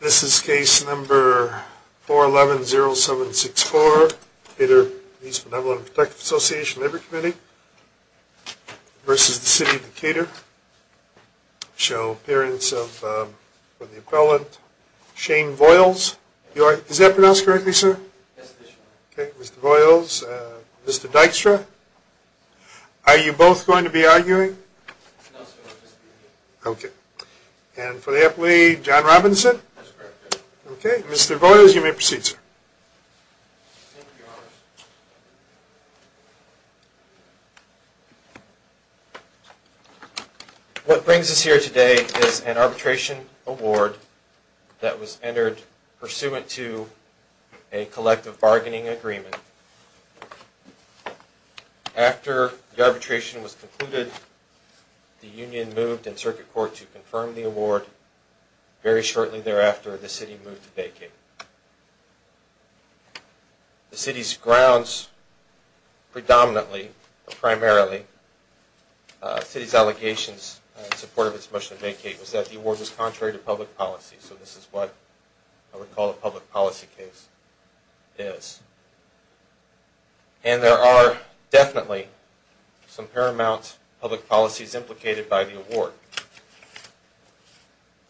This is case number 411-0764. The Police Benevolent and Protective Association Labor Committee v. City of Decatur. Show appearance of the appellant, Shane Voiles. Is that pronounced correctly, sir? Yes, it is. Okay, Mr. Voiles. Mr. Dykstra. Are you both going to be arguing? No, sir. Okay. And for the appellee, John Robinson? That's correct, sir. Okay, Mr. Voiles, you may proceed, sir. What brings us here today is an arbitration award that was entered pursuant to a collective bargaining agreement. After the arbitration was concluded, the union moved in circuit court to confirm the award. Very shortly thereafter, the city moved to vacate. The city's grounds, predominantly, primarily, the city's allegations in support of its motion to vacate was that the award was contrary to public policy. So this is what I would call a public policy case is. And there are definitely some paramount public policies implicated by the award.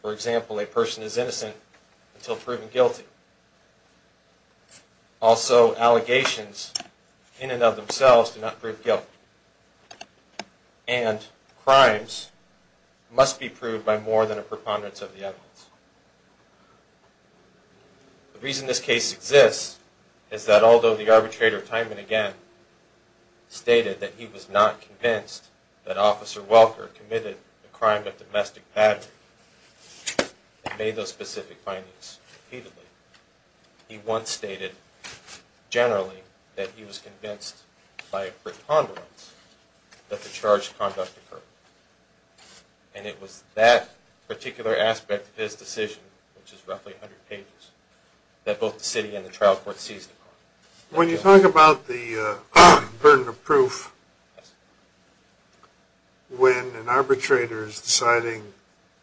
For example, a person is innocent until proven guilty. Also, allegations in and of themselves do not prove guilt. And crimes must be proved by more than a preponderance of the evidence. The reason this case exists is that although the arbitrator time and again stated that he was not convinced that Officer Welker committed a crime of domestic battery and made those specific findings repeatedly, he once stated, generally, that he was convinced by a preponderance that the charged conduct occurred. And it was that particular aspect of his decision, which is roughly 100 pages, that both the city and the trial court seized upon. When you talk about the burden of proof, when an arbitrator is deciding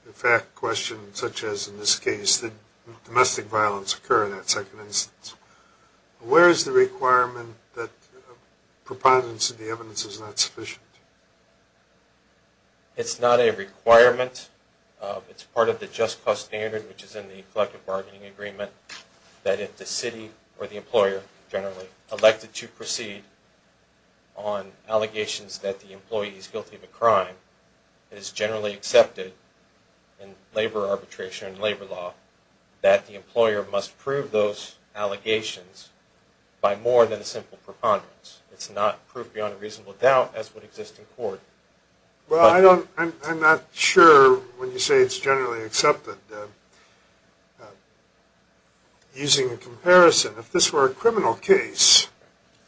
a fact question, such as in this case, that domestic violence occurred in that second instance, where is the requirement that preponderance of the evidence is not sufficient? It's not a requirement. It's part of the just cause standard, which is in the collective bargaining agreement, that if the city or the employer, generally, elected to proceed on allegations that the employee is guilty of a crime, it is generally accepted in labor arbitration and labor law that the employer must prove those allegations by more than a simple preponderance. It's not proof beyond a reasonable doubt, as would exist in court. Well, I'm not sure when you say it's generally accepted. Using a comparison, if this were a criminal case,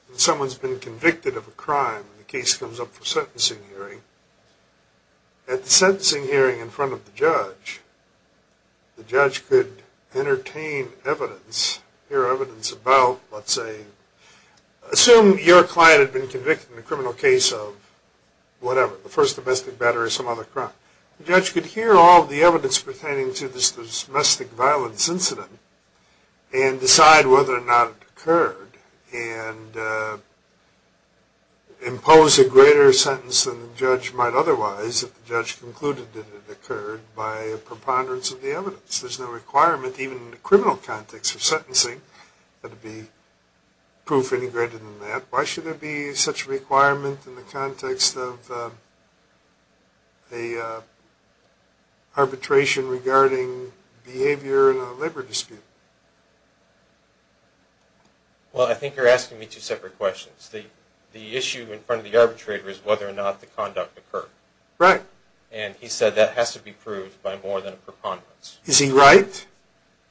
and someone's been convicted of a crime, and the case comes up for sentencing hearing, at the sentencing hearing in front of the judge, the judge could entertain evidence, hear evidence about, let's say, assume your client had been convicted in a criminal case of whatever, the first domestic battery or some other crime. The judge could hear all the evidence pertaining to this domestic violence incident and decide whether or not it occurred, and impose a greater sentence than the judge might otherwise if the judge concluded that it occurred by a preponderance of the evidence. There's no requirement, even in the criminal context of sentencing, that it be proof any greater than that. Why should there be such a requirement in the context of an arbitration regarding behavior in a labor dispute? Well, I think you're asking me two separate questions. The issue in front of the arbitrator is whether or not the conduct occurred. Right. And he said that has to be proved by more than a preponderance. Is he right? Yes.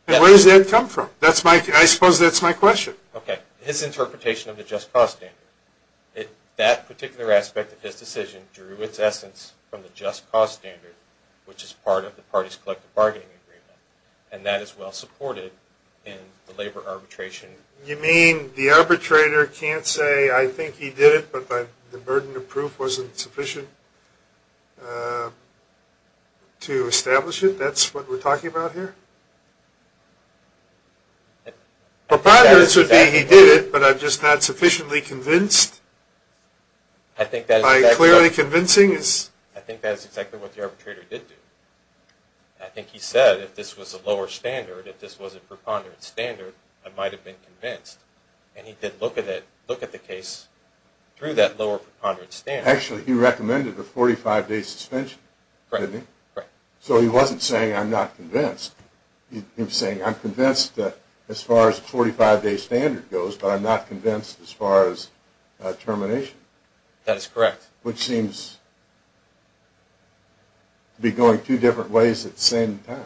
And where does that come from? I suppose that's my question. Okay. His interpretation of the just cause standard, that particular aspect of his decision drew its essence from the just cause standard, which is part of the party's collective bargaining agreement, and that is well supported in the labor arbitration. You mean the arbitrator can't say, I think he did it, but the burden of proof wasn't sufficient to establish it? That's what we're talking about here? Preponderance would be he did it, but I'm just not sufficiently convinced. By clearly convincing is? I think that is exactly what the arbitrator did do. I think he said if this was a lower standard, if this was a preponderance standard, I might have been convinced. And he did look at the case through that lower preponderance standard. Actually, he recommended a 45-day suspension, didn't he? Correct. So he wasn't saying I'm not convinced. He was saying I'm convinced as far as a 45-day standard goes, but I'm not convinced as far as termination. That is correct. Which seems to be going two different ways at the same time.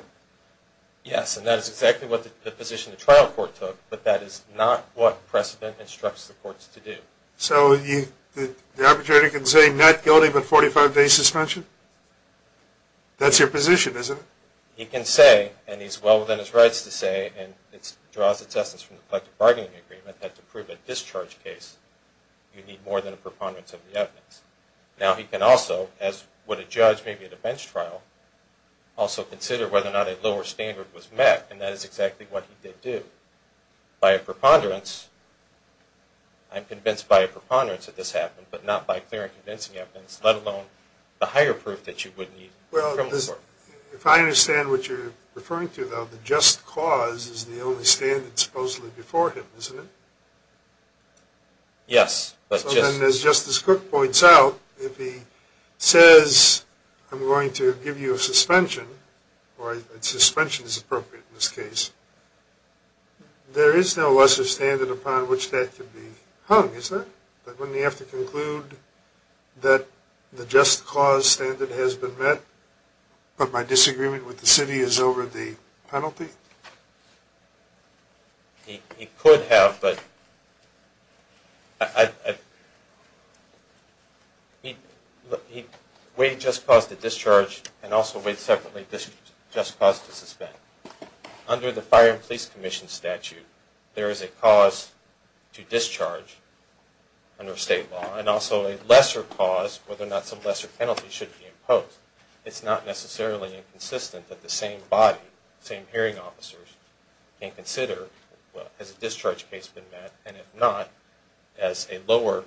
Yes, and that is exactly what the position the trial court took, but that is not what precedent instructs the courts to do. So the arbitrator can say not guilty but 45-day suspension? That's your position, isn't it? He can say, and he's well within his rights to say, and it draws its essence from the collective bargaining agreement that to prove a discharge case, you need more than a preponderance of the evidence. Now he can also, as would a judge maybe at a bench trial, also consider whether or not a lower standard was met, and that is exactly what he did do. By a preponderance, I'm convinced by a preponderance that this happened, but not by clear and convincing evidence, let alone the higher proof that you would need a criminal court. Well, if I understand what you're referring to, though, the just cause is the only standard supposedly before him, isn't it? Yes. As Justice Cook points out, if he says, I'm going to give you a suspension, or a suspension is appropriate in this case, there is no lesser standard upon which that could be hung, isn't there? Wouldn't he have to conclude that the just cause standard has been met, but my disagreement with the city is over the penalty? He could have, but... Wade just caused a discharge, and also Wade separately just caused a suspend. Under the Fire and Police Commission statute, there is a cause to discharge under state law, and also a lesser cause whether or not some lesser penalty should be imposed. It's not necessarily inconsistent that the same body, the same hearing officers, can consider, well, has a discharge case been met, and if not, as a lower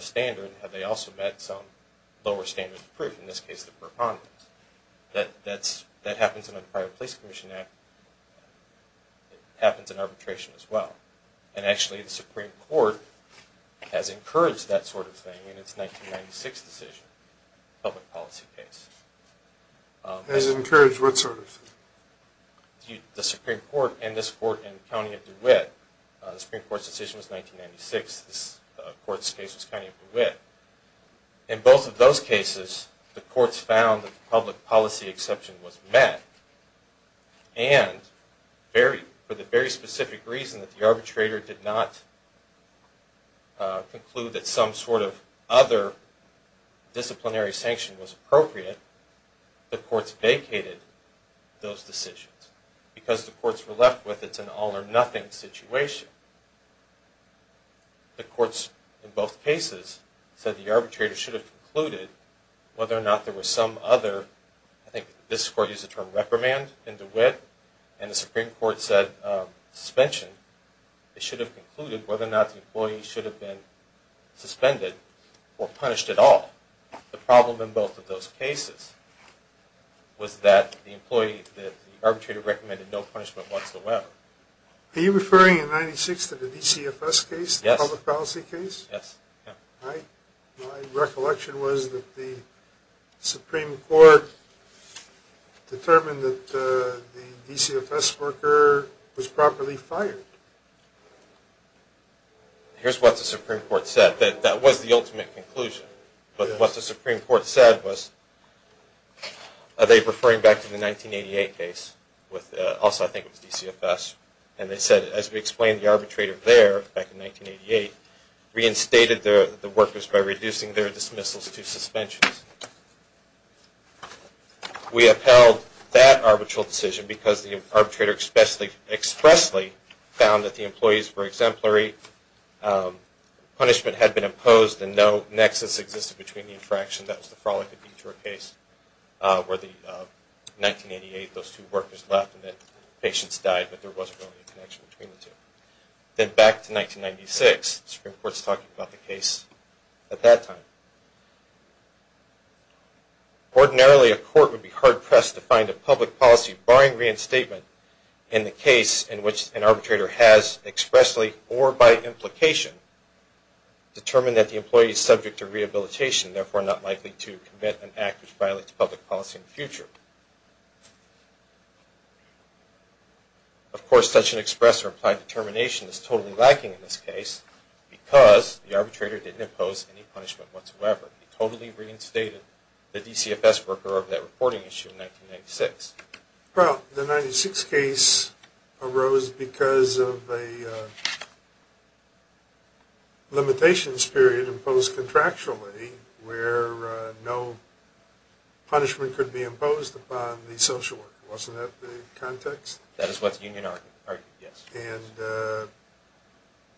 standard, have they also met some lower standard of proof, in this case the preponderance. That happens in the Fire and Police Commission Act, it happens in arbitration as well, and actually the Supreme Court has encouraged that sort of thing in its 1996 decision, the public policy case. Has it encouraged what sort of thing? The Supreme Court and this court in the County of DeWitt, the Supreme Court's decision was 1996, this court's case was County of DeWitt. In both of those cases, the courts found that the public policy exception was met, and for the very specific reason that the arbitrator did not conclude that some sort of other disciplinary sanction was appropriate, the courts vacated those decisions. Because the courts were left with it's an all or nothing situation. The courts in both cases said the arbitrator should have concluded whether or not there was some other, I think this court used the term reprimand in DeWitt, and the Supreme Court said suspension. They should have concluded whether or not the employee should have been suspended or punished at all. The problem in both of those cases was that the employee, the arbitrator recommended no punishment whatsoever. Are you referring in 1996 to the DCFS case? Yes. The public policy case? Yes. My recollection was that the Supreme Court determined that the DCFS worker was properly fired. Here's what the Supreme Court said. That was the ultimate conclusion. But what the Supreme Court said was, are they referring back to the 1988 case? Also I think it was DCFS. And they said, as we explained, the arbitrator there, back in 1988, reinstated the workers by reducing their dismissals to suspensions. We upheld that arbitral decision because the arbitrator expressly found that the employees were exemplary, punishment had been imposed, and no nexus existed between the infraction. That was the Frawley-Cabutra case where in 1988 those two workers left and patients died but there wasn't really a connection between the two. Then back to 1996, the Supreme Court is talking about the case at that time. Ordinarily a court would be hard-pressed to find a public policy barring reinstatement in the case in which an arbitrator has expressly or by implication determined that the employee is subject to rehabilitation, therefore not likely to commit an act which violates public policy in the future. Of course, such an express or implied determination is totally lacking in this case because the arbitrator didn't impose any punishment whatsoever. He totally reinstated the DCFS worker of that reporting issue in 1996. Well, the 1996 case arose because of a limitations period imposed contractually where no punishment could be imposed upon the social worker. Wasn't that the context? That is what the union argued, yes. And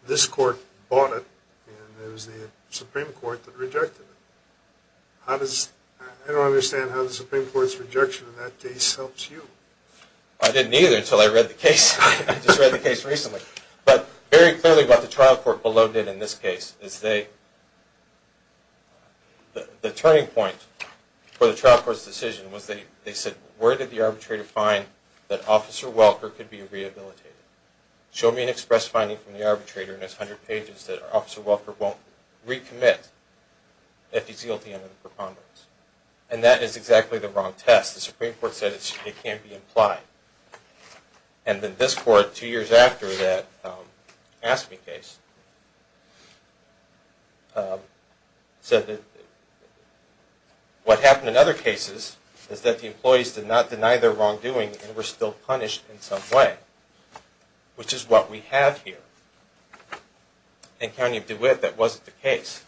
this court bought it and it was the Supreme Court that rejected it. I don't understand how the Supreme Court's rejection of that case helps you. I didn't either until I read the case. I just read the case recently. But very clearly what the trial court below did in this case is the turning point for the trial court's decision was they said, where did the arbitrator find that Officer Welker could be rehabilitated? Show me an express finding from the arbitrator in his 100 pages that Officer Welker won't recommit if he's guilty under the preponderance. And that is exactly the wrong test. The Supreme Court said it can't be implied. And then this court two years after that Ask Me case said that what happened in other cases is that the employees did not deny their wrongdoing and were still punished in some way, which is what we have here. In County of DeWitt that wasn't the case.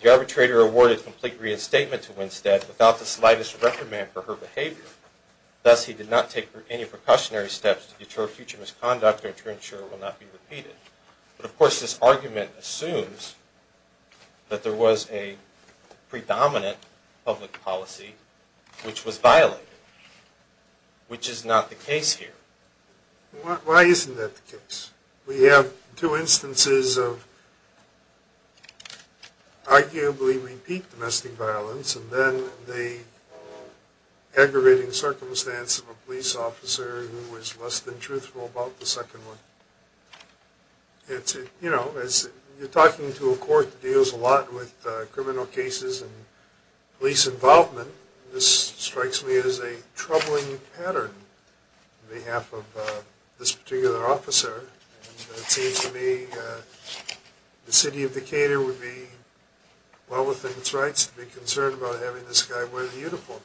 The arbitrator awarded complete reinstatement to Winstead without the slightest reprimand for her behavior. Thus he did not take any precautionary steps to deter future misconduct or to ensure it will not be repeated. But of course this argument assumes that there was a predominant public policy which was violated, which is not the case here. Why isn't that the case? We have two instances of arguably repeat domestic violence and then the aggravating circumstance of a police officer who was less than truthful about the second one. You're talking to a court that deals a lot with criminal cases and police involvement. This strikes me as a troubling pattern on behalf of this particular officer. It seems to me the city of Decatur would be well within its rights to be concerned about having this guy wear the uniform.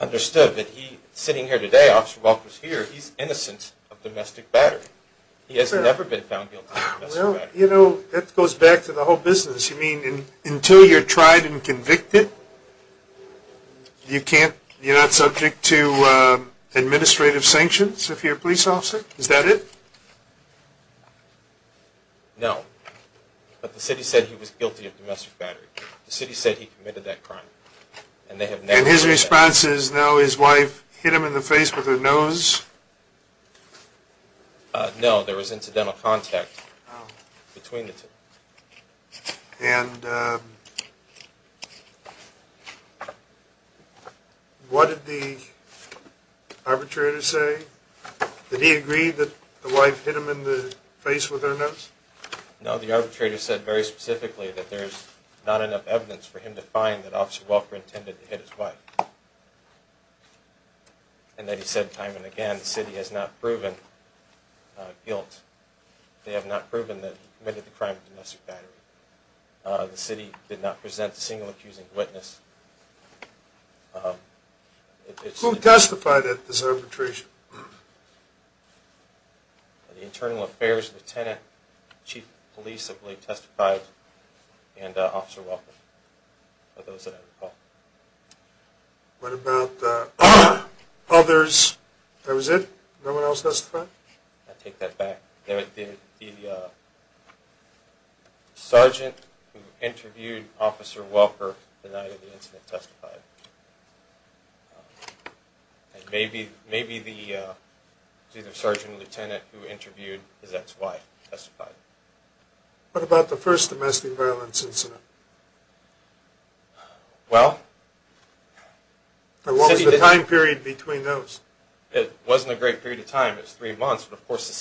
I understand that he, sitting here today, he's innocent of domestic battery. He has never been found guilty of domestic battery. You know, that goes back to the whole business. You mean until you're tried and convicted, you're not subject to administrative sanctions if you're a police officer? Is that it? No. But the city said he was guilty of domestic battery. The city said he committed that crime. And his response is now his wife hit him in the face with her nose? No, there was incidental contact between the two. And what did the arbitrator say? Did he agree that the wife hit him in the face with her nose? No, the arbitrator said very specifically that there's not enough evidence for him to find that Officer Welker intended to hit his wife. And that he said time and again the city has not proven guilt. They have not proven that he committed the crime of domestic battery. The city did not present a single accusing witness. Who testified at this arbitration? The Internal Affairs Lieutenant, Chief of Police, I believe, testified, and Officer Welker, for those that I recall. What about others? That was it? No one else testified? I take that back. The sergeant who interviewed Officer Welker denied that the incident testified. And maybe the sergeant lieutenant who interviewed his ex-wife testified. What about the first domestic violence incident? Well, the city did not. What was the time period between those? It wasn't a great period of time. It was three months. But, of course, the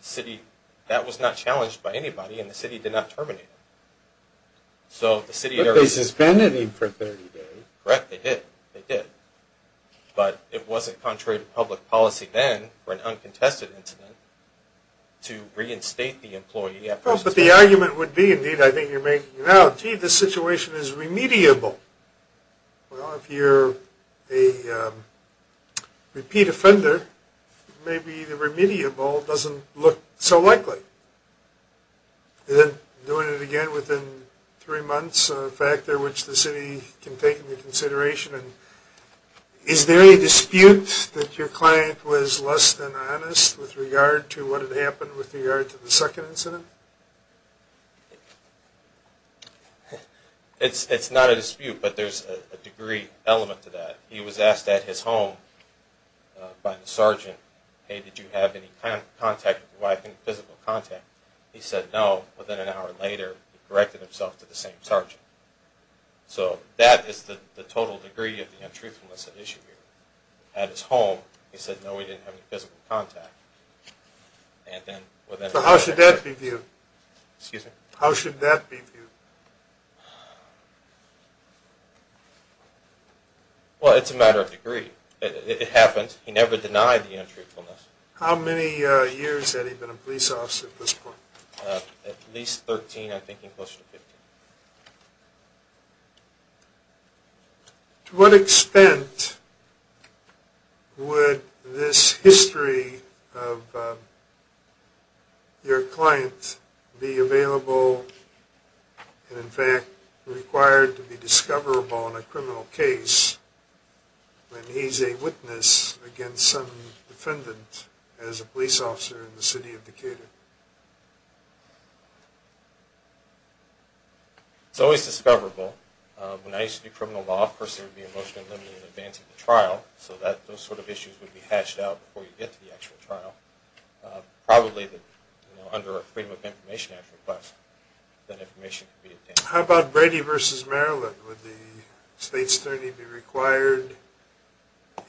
city, that was not challenged by anybody, and the city did not terminate it. But they suspended him for 30 days. Correct, they did. They did. But it wasn't contrary to public policy then for an uncontested incident to reinstate the employee. But the argument would be, indeed, I think you're making now, gee, this situation is remediable. Well, if you're a repeat offender, maybe the remediable doesn't look so likely. And then doing it again within three months, a factor which the city can take into consideration. And is there a dispute that your client was less than honest with regard to what had happened with regard to the second incident? It's not a dispute, but there's a degree element to that. He was asked at his home by the sergeant, hey, did you have any contact with your wife, any physical contact? He said no. Within an hour later, he corrected himself to the same sergeant. So that is the total degree of the untruthfulness at issue here. At his home, he said, no, we didn't have any physical contact. So how should that be viewed? Excuse me? How should that be viewed? Well, it's a matter of degree. It happens. He never denied the untruthfulness. How many years had he been a police officer at this point? At least 13, I think, and closer to 15. To what extent would this history of your client be available and, in fact, required to be discoverable in a criminal case when he's a witness against some defendant as a police officer in the city of Decatur? It's always discoverable. When I used to do criminal law, of course, there would be a motion to limit it in advance of the trial so that those sort of issues would be hatched out before you get to the actual trial. Probably under a Freedom of Information Act request, that information could be obtained. How about Brady v. Maryland? Would the state's attorney be required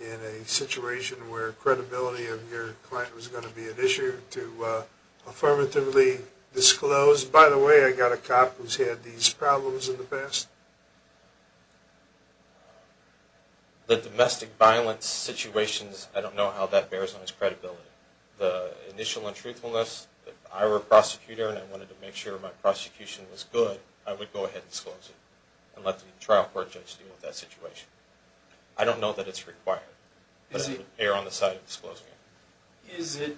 in a situation where credibility of your client was going to be an issue to affirmatively disclose, by the way, I've got a cop who's had these problems in the past? The domestic violence situations, I don't know how that bears on his credibility. The initial untruthfulness, if I were a prosecutor and I wanted to make sure my prosecution was good, I would go ahead and disclose it and let the trial court judge deal with that situation. I don't know that it's required. But it would err on the side of disclosing it. Is it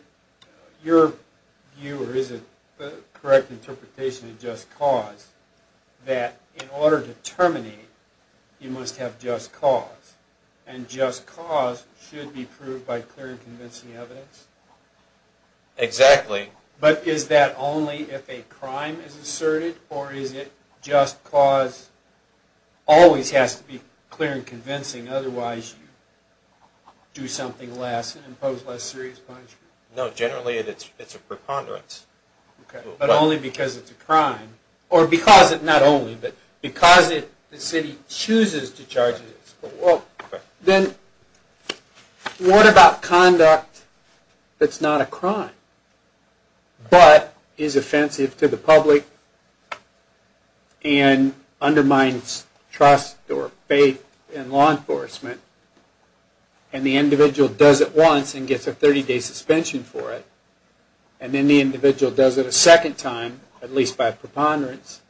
your view, or is it the correct interpretation of just cause, that in order to terminate, you must have just cause? And just cause should be proved by clear and convincing evidence? Exactly. But is that only if a crime is asserted, or is it just cause always has to be clear and convincing, otherwise you do something less and impose less serious punishment? No, generally it's a preponderance. But only because it's a crime. Or because it, not only, but because the city chooses to charge it. Then what about conduct that's not a crime, but is offensive to the public and undermines trust or faith in law enforcement, and the individual does it once and gets a 30-day suspension for it, and then the individual does it a second time, at least by preponderance,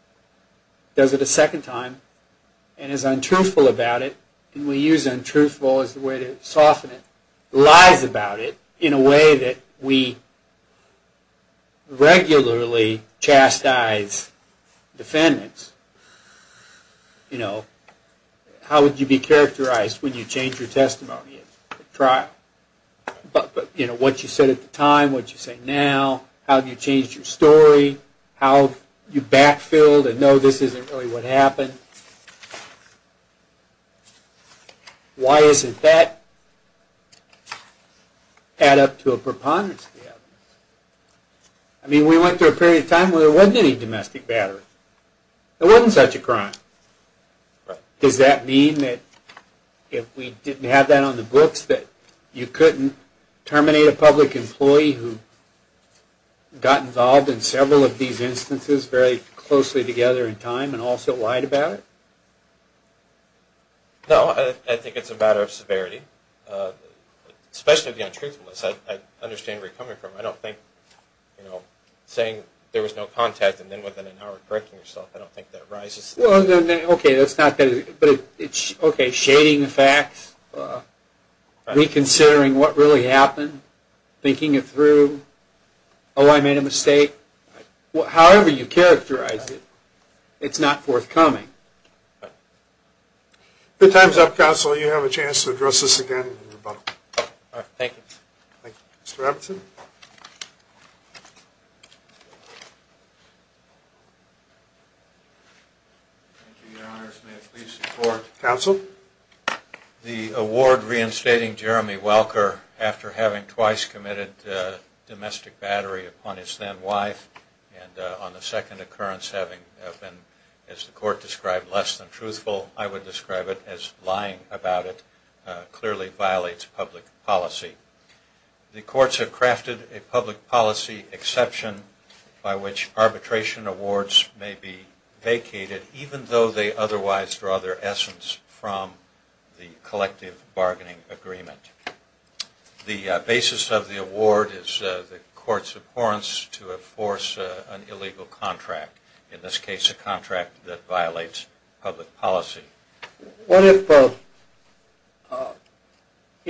does it a second time, and is untruthful about it, and we use untruthful as a way to soften it, lies about it in a way that we regularly chastise defendants. How would you be characterized when you change your testimony at trial? What you said at the time, what you say now, how you changed your story, how you back-filled and know this isn't really what happened. Why doesn't that add up to a preponderance? I mean, we went through a period of time where there wasn't any domestic battery. There wasn't such a crime. Does that mean that if we didn't have that on the books, that you couldn't terminate a public employee who got involved in several of these instances very closely together in time and also lied about it? No, I think it's a matter of severity, especially the untruthfulness. I understand where you're coming from. I don't think saying there was no contact and then within an hour correcting yourself, I don't think that rises to that. Okay, that's not that easy. Okay, shading the facts, reconsidering what really happened, thinking it through. Oh, I made a mistake. However you characterize it, it's not forthcoming. Good times up, counsel. You have a chance to address this again in rebuttal. Thank you. Thank you. Mr. Robinson? Thank you, your honors. May it please the court. Counsel? The award reinstating Jeremy Welker after having twice committed domestic battery upon his then wife and on the second occurrence having been, as the court described, less than truthful, I would describe it as lying about it, clearly violates public policy. The courts have crafted a public policy exception by which arbitration awards may be vacated even though they otherwise draw their essence from the collective bargaining agreement. The basis of the award is the court's abhorrence to enforce an illegal contract, in this case a contract that violates public policy. What if the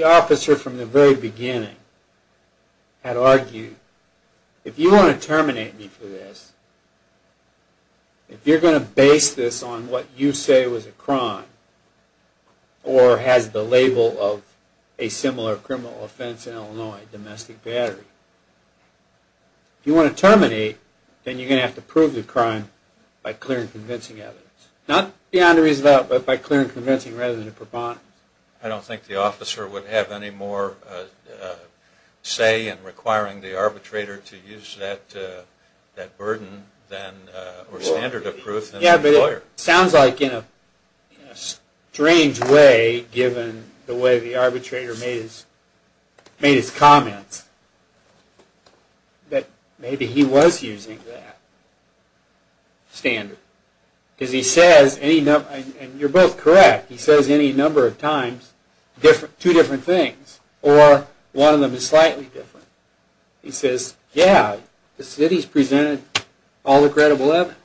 officer from the very beginning had argued, if you want to terminate me for this, if you're going to base this on what you say was a crime or has the label of a similar criminal offense in Illinois, domestic battery, if you want to terminate, then you're going to have to prove the crime by clear and convincing evidence. Not beyond a reasonable doubt, but by clear and convincing rather than a preponderance. I don't think the officer would have any more say in requiring the arbitrator to use that burden or standard of proof than his employer. Yeah, but it sounds like in a strange way, given the way the arbitrator made his comments, that maybe he was using that standard. Because he says, and you're both correct, he says any number of times two different things, or one of them is slightly different. He says, yeah, the city's presented all the credible evidence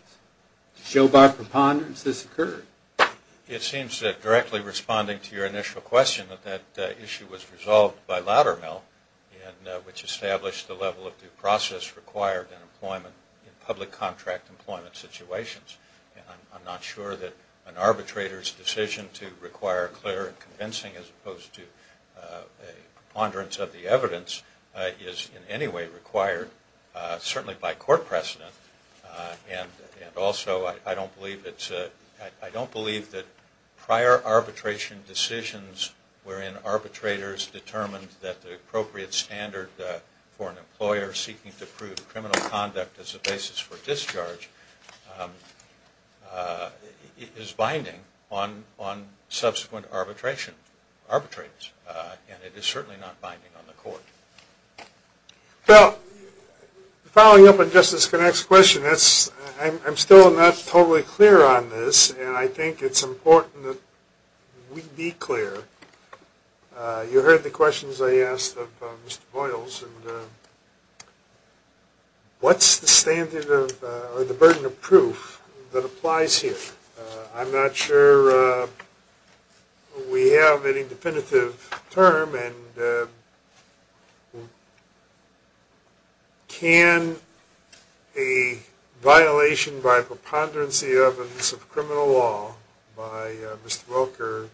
to show by preponderance this occurred. It seems that directly responding to your initial question that that issue was resolved by Loudermill, which established the level of due process required in public contract employment situations. I'm not sure that an arbitrator's decision to require clear and convincing as opposed to a preponderance of the evidence is in any way required, certainly by court precedent. And also, I don't believe that prior arbitration decisions wherein arbitrators determined that the appropriate standard for an employer seeking to prove criminal conduct as a basis for discharge is binding on subsequent arbitrators. And it is certainly not binding on the court. Well, following up on Justice Connacht's question, I'm still not totally clear on this, and I think it's important that we be clear. You heard the questions I asked of Mr. Boyles. What's the burden of proof that applies here? I'm not sure we have any definitive term, and can a violation by preponderance of criminal law by Mr. Welker,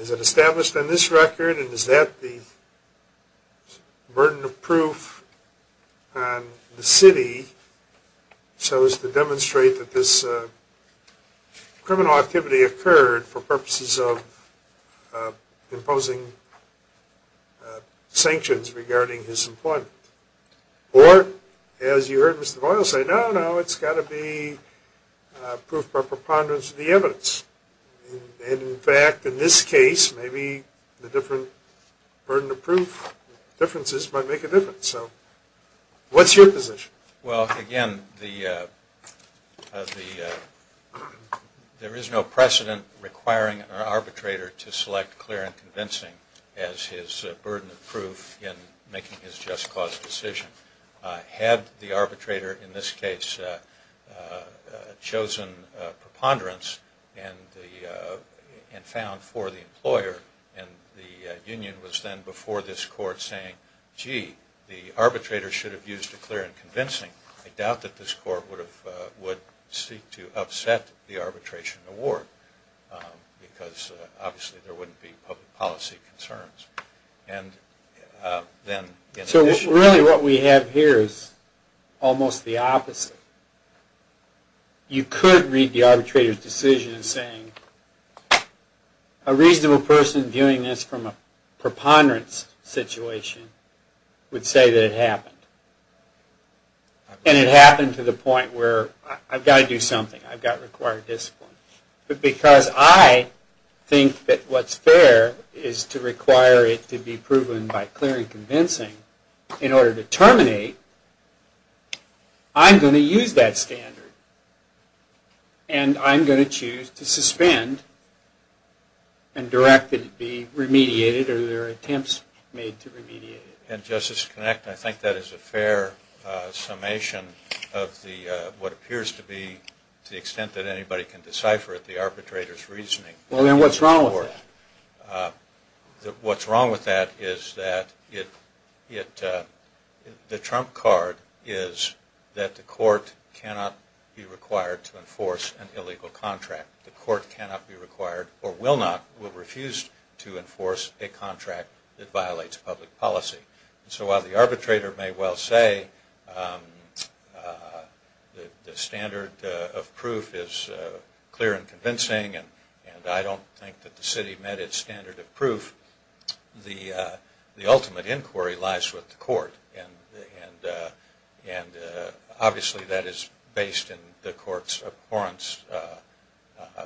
is it established on this record, and is that the burden of proof on the city so as to demonstrate that this criminal activity occurred for purposes of imposing sanctions regarding his employment? Or, as you heard Mr. Boyle say, no, no, it's got to be proof by preponderance of the evidence. And in fact, in this case, maybe the different burden of proof differences might make a difference. What's your position? Well, again, there is no precedent requiring an arbitrator to select clear and convincing as his burden of proof in making his just cause decision. Had the arbitrator in this case chosen preponderance and found for the employer, and the union was then before this court saying, gee, the arbitrator should have used a clear and convincing, I doubt that this court would seek to upset the arbitration award, because obviously there wouldn't be public policy concerns. So really what we have here is almost the opposite. You could read the arbitrator's decision saying, a reasonable person viewing this from a preponderance situation would say that it happened. And it happened to the point where I've got to do something, I've got to require discipline. But because I think that what's fair is to require it to be proven by clear and convincing in order to terminate, I'm going to use that standard. And I'm going to choose to suspend and direct it to be remediated or there are attempts made to remediate it. And Justice Kinect, I think that is a fair summation of what appears to be, to the extent that anybody can decipher it, the arbitrator's reasoning. Well, then what's wrong with that? What's wrong with that is that the trump card is that the court cannot be required to enforce an illegal contract. The court cannot be required or will not, will refuse to enforce a contract that violates public policy. So while the arbitrator may well say the standard of proof is clear and convincing and I don't think that the city met its standard of proof, the ultimate inquiry lies with the court. And obviously that is based in the court's abhorrence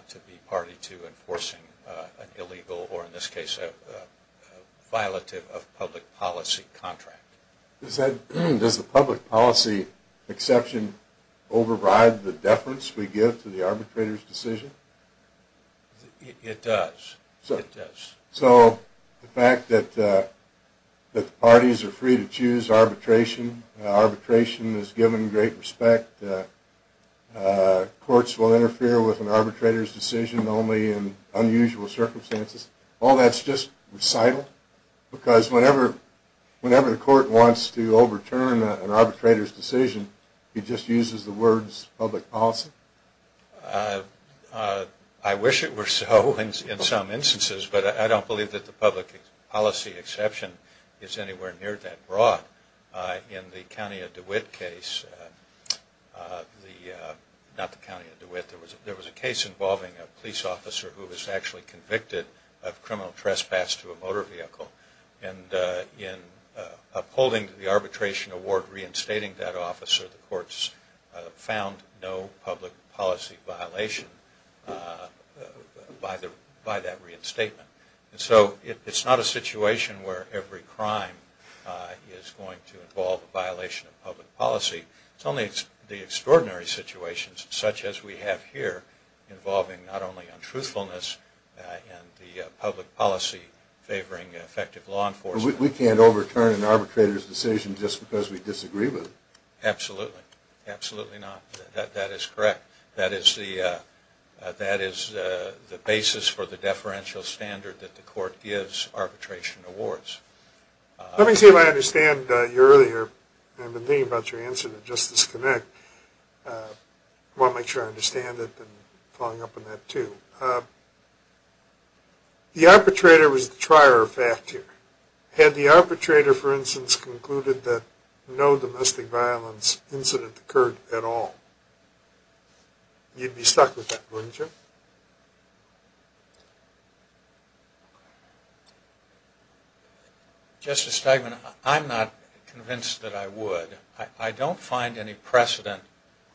to be party to enforcing an illegal or, in this case, a violative of public policy contract. Does the public policy exception override the deference we give to the arbitrator's decision? It does. It does. So the fact that the parties are free to choose arbitration, arbitration is given great respect, courts will interfere with an arbitrator's decision only in unusual circumstances, all that's just recital? Because whenever the court wants to overturn an arbitrator's decision, he just uses the words public policy? I wish it were so in some instances, but I don't believe that the public policy exception is anywhere near that broad. In the County of DeWitt case, not the County of DeWitt, there was a case involving a police officer who was actually convicted of criminal trespass to a motor vehicle. And in upholding the arbitration award reinstating that officer, the courts found no public policy violation by that reinstatement. So it's not a situation where every crime is going to involve a violation of public policy. It's only the extraordinary situations such as we have here involving not only untruthfulness and the public policy favoring effective law enforcement. We can't overturn an arbitrator's decision just because we disagree with it. Absolutely, absolutely not. That is correct. That is the basis for the deferential standard that the court gives arbitration awards. Let me see if I understand you earlier. I've been thinking about your answer to Justice Connick. I want to make sure I understand it and following up on that too. The arbitrator was the trier of fact here. Had the arbitrator, for instance, concluded that no domestic violence incident occurred at all, you'd be stuck with that, wouldn't you? Justice Stegman, I'm not convinced that I would. I don't find any precedent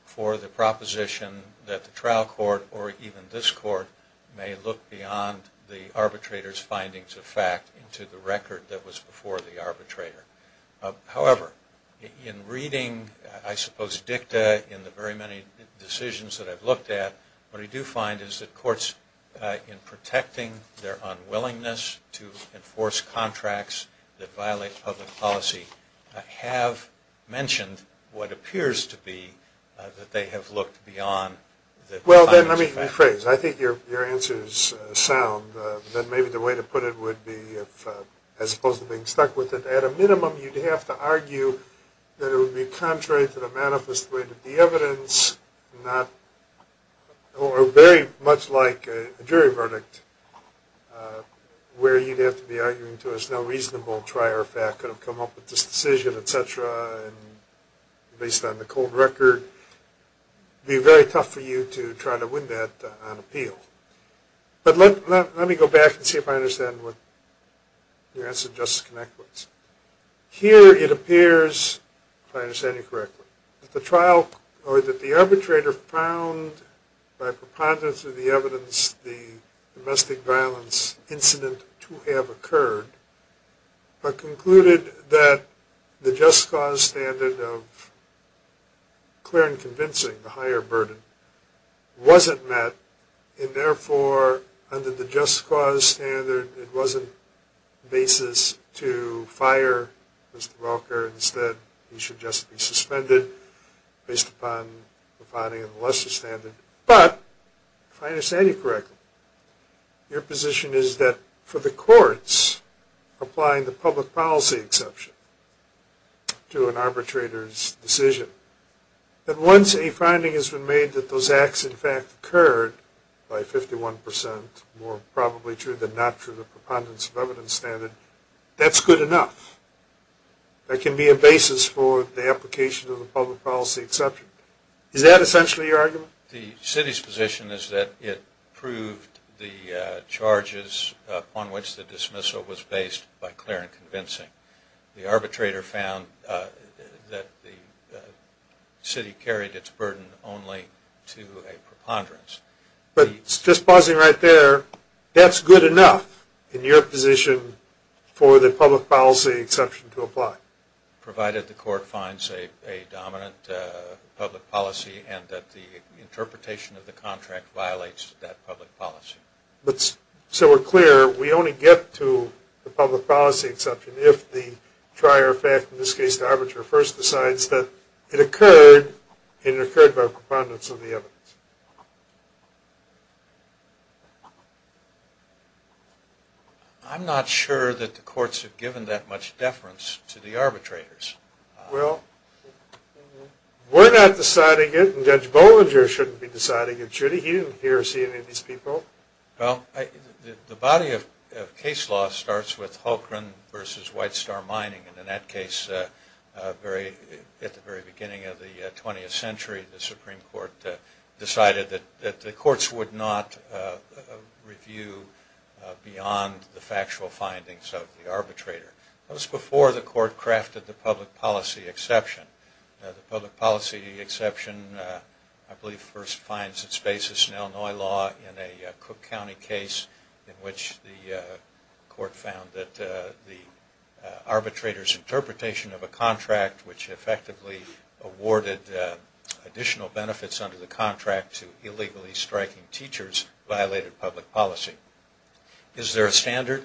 for the proposition that the trial court or even this court may look beyond the arbitrator's findings of fact into the record that was before the arbitrator. However, in reading, I suppose, dicta in the very many decisions that I've looked at, what I do find is that courts, in protecting their unwillingness to enforce contracts that violate public policy, have mentioned what appears to be that they have looked beyond. Well, let me rephrase. I think your answer is sound. Maybe the way to put it would be, as opposed to being stuck with it, at a minimum you'd have to argue that it would be contrary to the manifest way to be evidence, or very much like a jury verdict, where you'd have to be arguing to us no reasonable trier of fact could have come up with this decision, et cetera, based on the cold record. It would be very tough for you to try to win that on appeal. But let me go back and see if I understand what your answer to Justice Connick was. Here it appears, if I understand you correctly, that the arbitrator found, by preponderance of the evidence, the domestic violence incident to have occurred, but concluded that the just cause standard of clear and convincing, the higher burden, wasn't met, and therefore, under the just cause standard, it wasn't the basis to fire Mr. Welker. Instead, he should just be suspended, based upon the finding of the lesser standard. But, if I understand you correctly, your position is that for the courts, applying the public policy exception to an arbitrator's decision, that once a finding has been made that those acts, in fact, occurred, by 51%, more probably true than not through the preponderance of evidence standard, that's good enough. That can be a basis for the application of the public policy exception. Is that essentially your argument? The city's position is that it proved the charges upon which the dismissal was based by clear and convincing. The arbitrator found that the city carried its burden only to a preponderance. But, just pausing right there, that's good enough, in your position, for the public policy exception to apply. Provided the court finds a dominant public policy, and that the interpretation of the contract violates that public policy. So, we're clear, we only get to the public policy exception, if the prior fact, in this case, the arbitrator first decides that it occurred, and it occurred by preponderance of the evidence. I'm not sure that the courts have given that much deference to the arbitrators. Well, we're not deciding it, and Judge Bollinger shouldn't be deciding it, should he? He didn't hear or see any of these people. Well, the body of case law starts with Holcren versus White Star Mining, and in that case, at the very beginning of the 20th century, the Supreme Court decided that the courts would not review beyond the factual findings of the arbitrator. That was before the court crafted the public policy exception. The public policy exception, I believe, first finds its basis in Illinois law, in a Cook County case in which the court found that the arbitrator's interpretation of a contract, which effectively awarded additional benefits under the contract to illegally striking teachers, violated public policy. Is there a standard?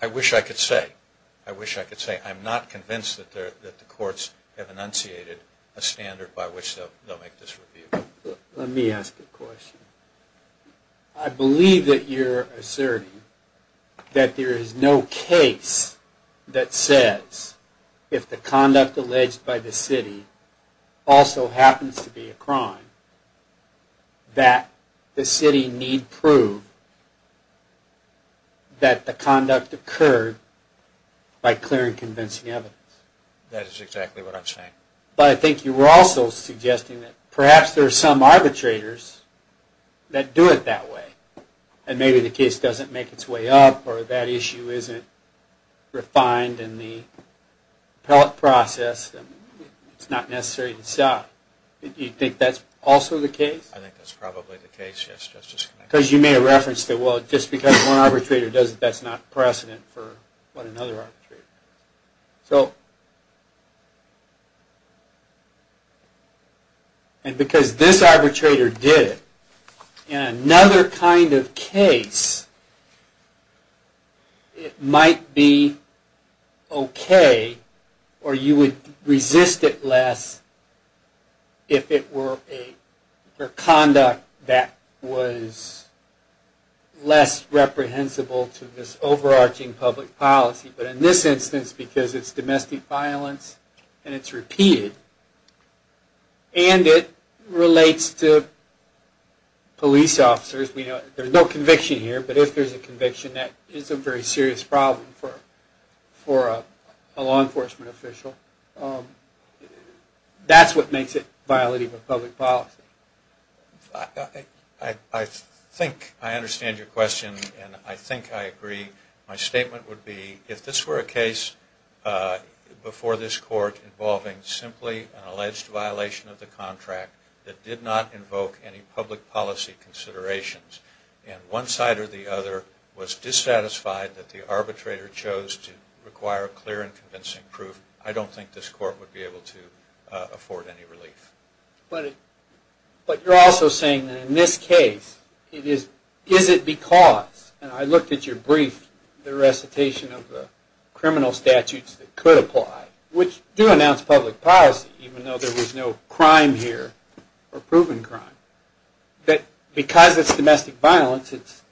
I wish I could say. I'm not convinced that the courts have enunciated a standard by which they'll make this review. Let me ask a question. I believe that you're asserting that there is no case that says if the conduct alleged by the city also happens to be a crime, that the city need prove that the conduct occurred by clear and convincing evidence. That is exactly what I'm saying. But I think you were also suggesting that perhaps there are some arbitrators that do it that way, and maybe the case doesn't make its way up or that issue isn't refined in the appellate process and it's not necessary to stop. Do you think that's also the case? I think that's probably the case, yes. Because you made a reference that just because one arbitrator does it, that's not precedent for another arbitrator. And because this arbitrator did it, in another kind of case, it might be okay or you would resist it less if it were conduct that was less reprehensible to this overarching public policy. But in this instance, because it's domestic violence and it's repeated, and it relates to police officers, there's no conviction here, but if there's a conviction, that is a very serious problem for a law enforcement official. That's what makes it a violation of public policy. I think I understand your question and I think I agree. My statement would be, if this were a case before this court involving simply an alleged violation of the contract that did not invoke any public policy considerations, and one side or the other was dissatisfied that the arbitrator chose to require clear and convincing proof, I don't think this court would be able to afford any relief. But you're also saying that in this case, is it because, and I looked at your brief, the recitation of the criminal statutes that could apply, which do announce public policy, even though there was no crime here or proven crime, that because it's domestic violence, it's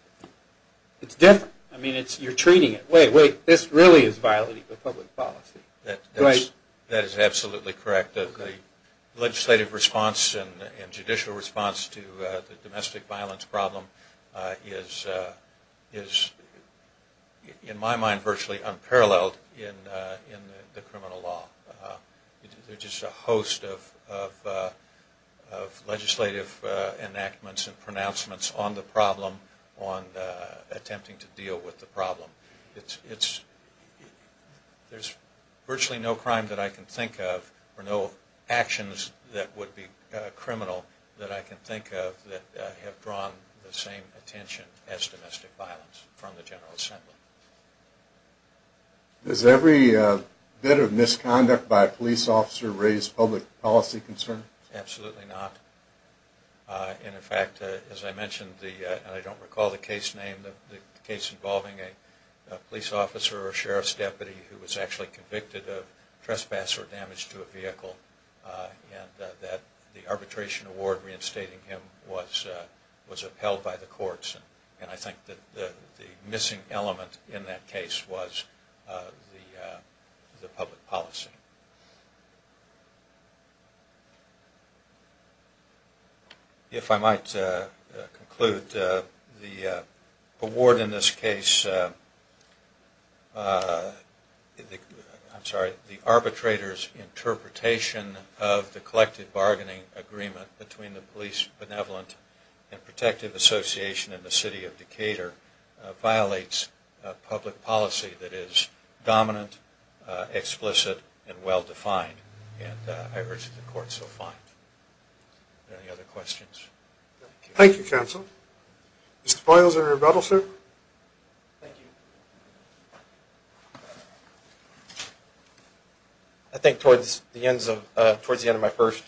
different. I mean, you're treating it, wait, wait, this really is violating public policy. That is absolutely correct. The legislative response and judicial response to the domestic violence problem is in my mind virtually unparalleled in the criminal law. There's just a host of legislative enactments and pronouncements on the problem, but there's virtually no crime that I can think of or no actions that would be criminal that I can think of that have drawn the same attention as domestic violence from the General Assembly. Does every bit of misconduct by a police officer raise public policy concern? Absolutely not. And in fact, as I mentioned, and I don't recall the case name, the case involving a police officer or sheriff's deputy who was actually convicted of trespass or damage to a vehicle and that the arbitration award reinstating him was upheld by the courts. And I think that the missing element in that case was the public policy. If I might conclude, the award in this case, I'm sorry, the arbitrator's interpretation of the collective bargaining agreement between the Police Benevolent and Protective Association and the City of Decatur violates public policy that is dominant, explicit, and well-defined. And I urge that the courts will find. Any other questions? Thank you, counsel. Mr. Poyles, any rebuttals, sir? Thank you. I think towards the end of my first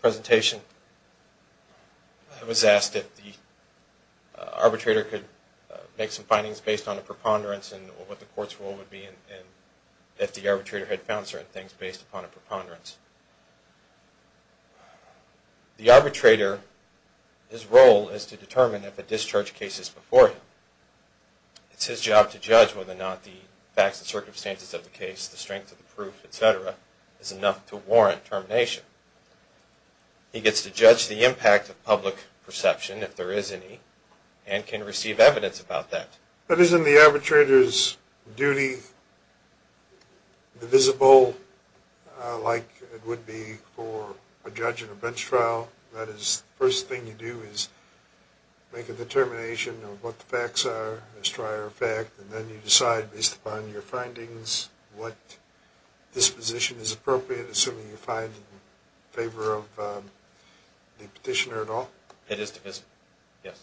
presentation, I was asked if the arbitrator could make some findings based on a preponderance and what the court's role would be if the arbitrator had found certain things based upon a preponderance. The arbitrator, his role is to determine if a discharge case is before him. It's his job to judge whether or not the facts and circumstances of the case, the strength of the proof, et cetera, is enough to warrant termination. He gets to judge the impact of public perception, if there is any, and can receive evidence about that. But isn't the arbitrator's duty divisible like it would be for a judge in a bench trial? That is, the first thing you do is make a determination of what the facts are, as a prior fact, and then you decide based upon your findings what disposition is appropriate, assuming you find in favor of the petitioner at all? It is divisible, yes.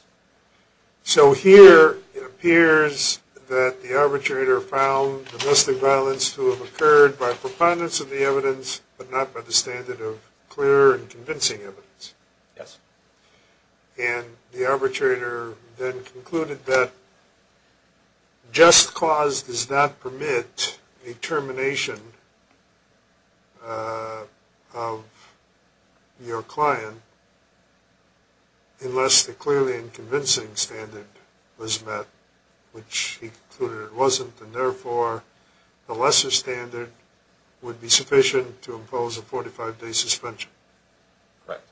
So here it appears that the arbitrator found domestic violence to have occurred by preponderance of the evidence, but not by the standard of clear and convincing evidence. Yes. And the arbitrator then concluded that just cause does not permit a termination of your client unless the clearly and convincing standard was met, which he concluded it wasn't, and therefore the lesser standard would be sufficient to impose a 45-day suspension. Correct.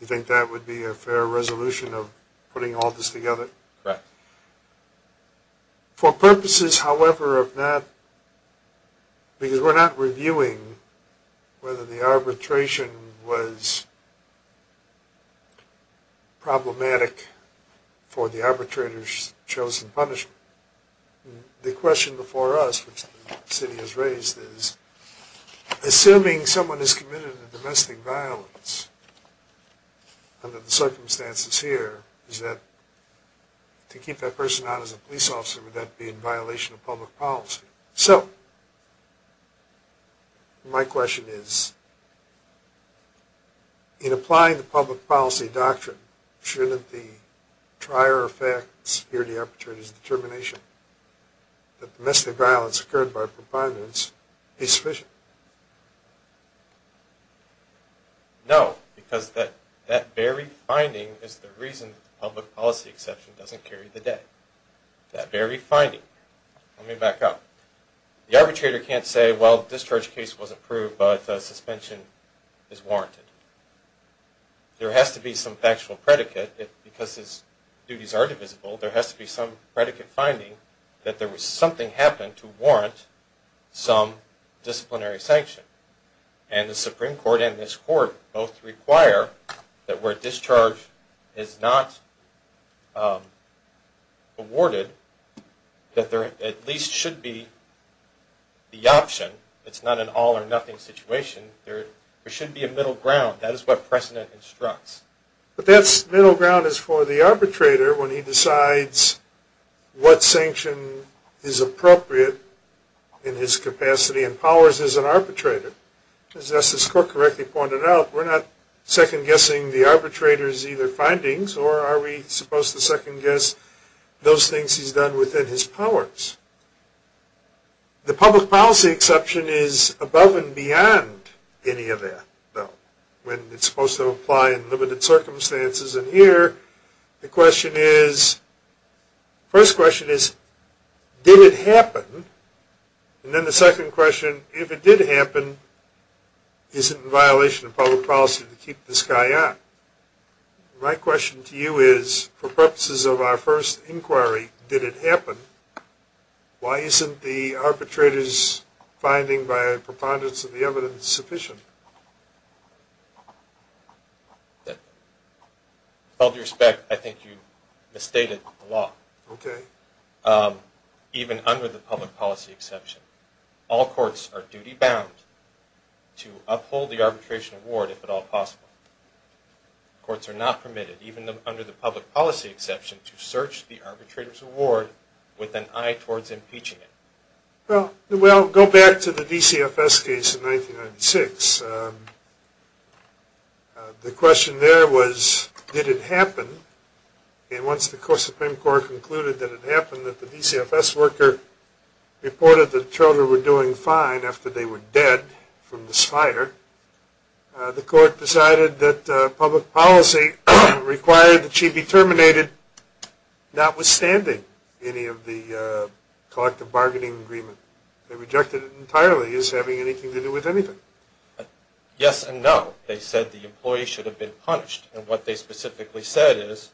You think that would be a fair resolution of putting all this together? Correct. For purposes, however, of that, because we're not reviewing whether the arbitration was problematic for the arbitrator's chosen punishment. The question before us, which the city has raised, is assuming someone has committed a domestic violence under the circumstances here, to keep that person out as a police officer, would that be in violation of public policy? So my question is, in applying the public policy doctrine, shouldn't the prior fact, the security arbitrator's determination, that domestic violence occurred by preponderance be sufficient? No. Because that very finding is the reason the public policy exception doesn't carry the day. That very finding. Let me back up. The arbitrator can't say, well, the discharge case was approved, but suspension is warranted. There has to be some factual predicate. Because his duties are divisible, there has to be some predicate finding that something happened to warrant some disciplinary sanction. And the Supreme Court and this Court both require that where discharge is not awarded, that there at least should be the option. It's not an all or nothing situation. There should be a middle ground. That is what precedent instructs. But that middle ground is for the arbitrator when he decides what sanction is appropriate in his capacity and powers as an arbitrator. As Justice Cook correctly pointed out, we're not second-guessing the arbitrator's either findings or are we supposed to second-guess those things he's done within his powers. The public policy exception is above and beyond any of that, though, when it's supposed to apply in limited circumstances. And here the question is, the first question is, did it happen? And then the second question, if it did happen, is it in violation of public policy to keep this guy on? My question to you is, for purposes of our first inquiry, did it happen? Why isn't the arbitrator's finding by a preponderance of the evidence sufficient? With all due respect, I think you misstated the law. Okay. Even under the public policy exception, all courts are duty-bound to uphold the arbitration award if at all possible. Courts are not permitted, even under the public policy exception, to search the arbitrator's award with an eye towards impeaching it. Well, go back to the DCFS case in 1996. The question there was, did it happen? And once the Supreme Court concluded that it happened, that the DCFS worker reported that the children were doing fine after they were dead from this fire, the court decided that public policy required that she be terminated, notwithstanding any of the collective bargaining agreement. They rejected it entirely. Is having anything to do with anything? Yes and no. They said the employee should have been punished. And what they specifically said is,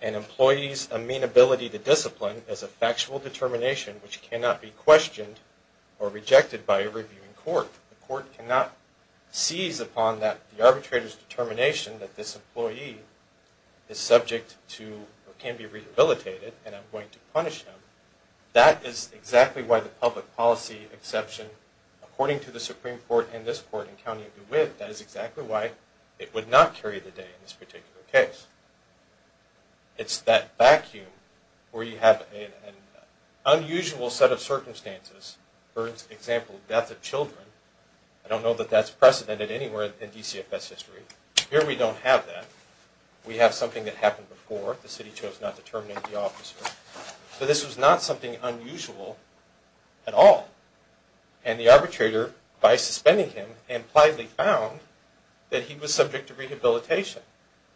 an employee's amenability to discipline is a factual determination which cannot be questioned or rejected by a reviewing court. The court cannot seize upon the arbitrator's determination that this employee is subject to or can be rehabilitated and I'm going to punish him. That is exactly why the public policy exception, according to the Supreme Court and this court in County of DeWitt, that is exactly why it would not carry the day in this particular case. It's that vacuum where you have an unusual set of circumstances. For example, death of children. I don't know that that's precedented anywhere in DCFS history. Here we don't have that. We have something that happened before. The city chose not to terminate the officer. So this was not something unusual at all. And the arbitrator, by suspending him, impliedly found that he was subject to rehabilitation.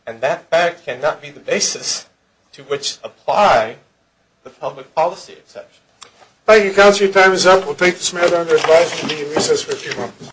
And that fact cannot be the basis to which apply the public policy exception. Thank you, counsel. Your time is up. We'll take this matter under advisement and be in recess for a few moments.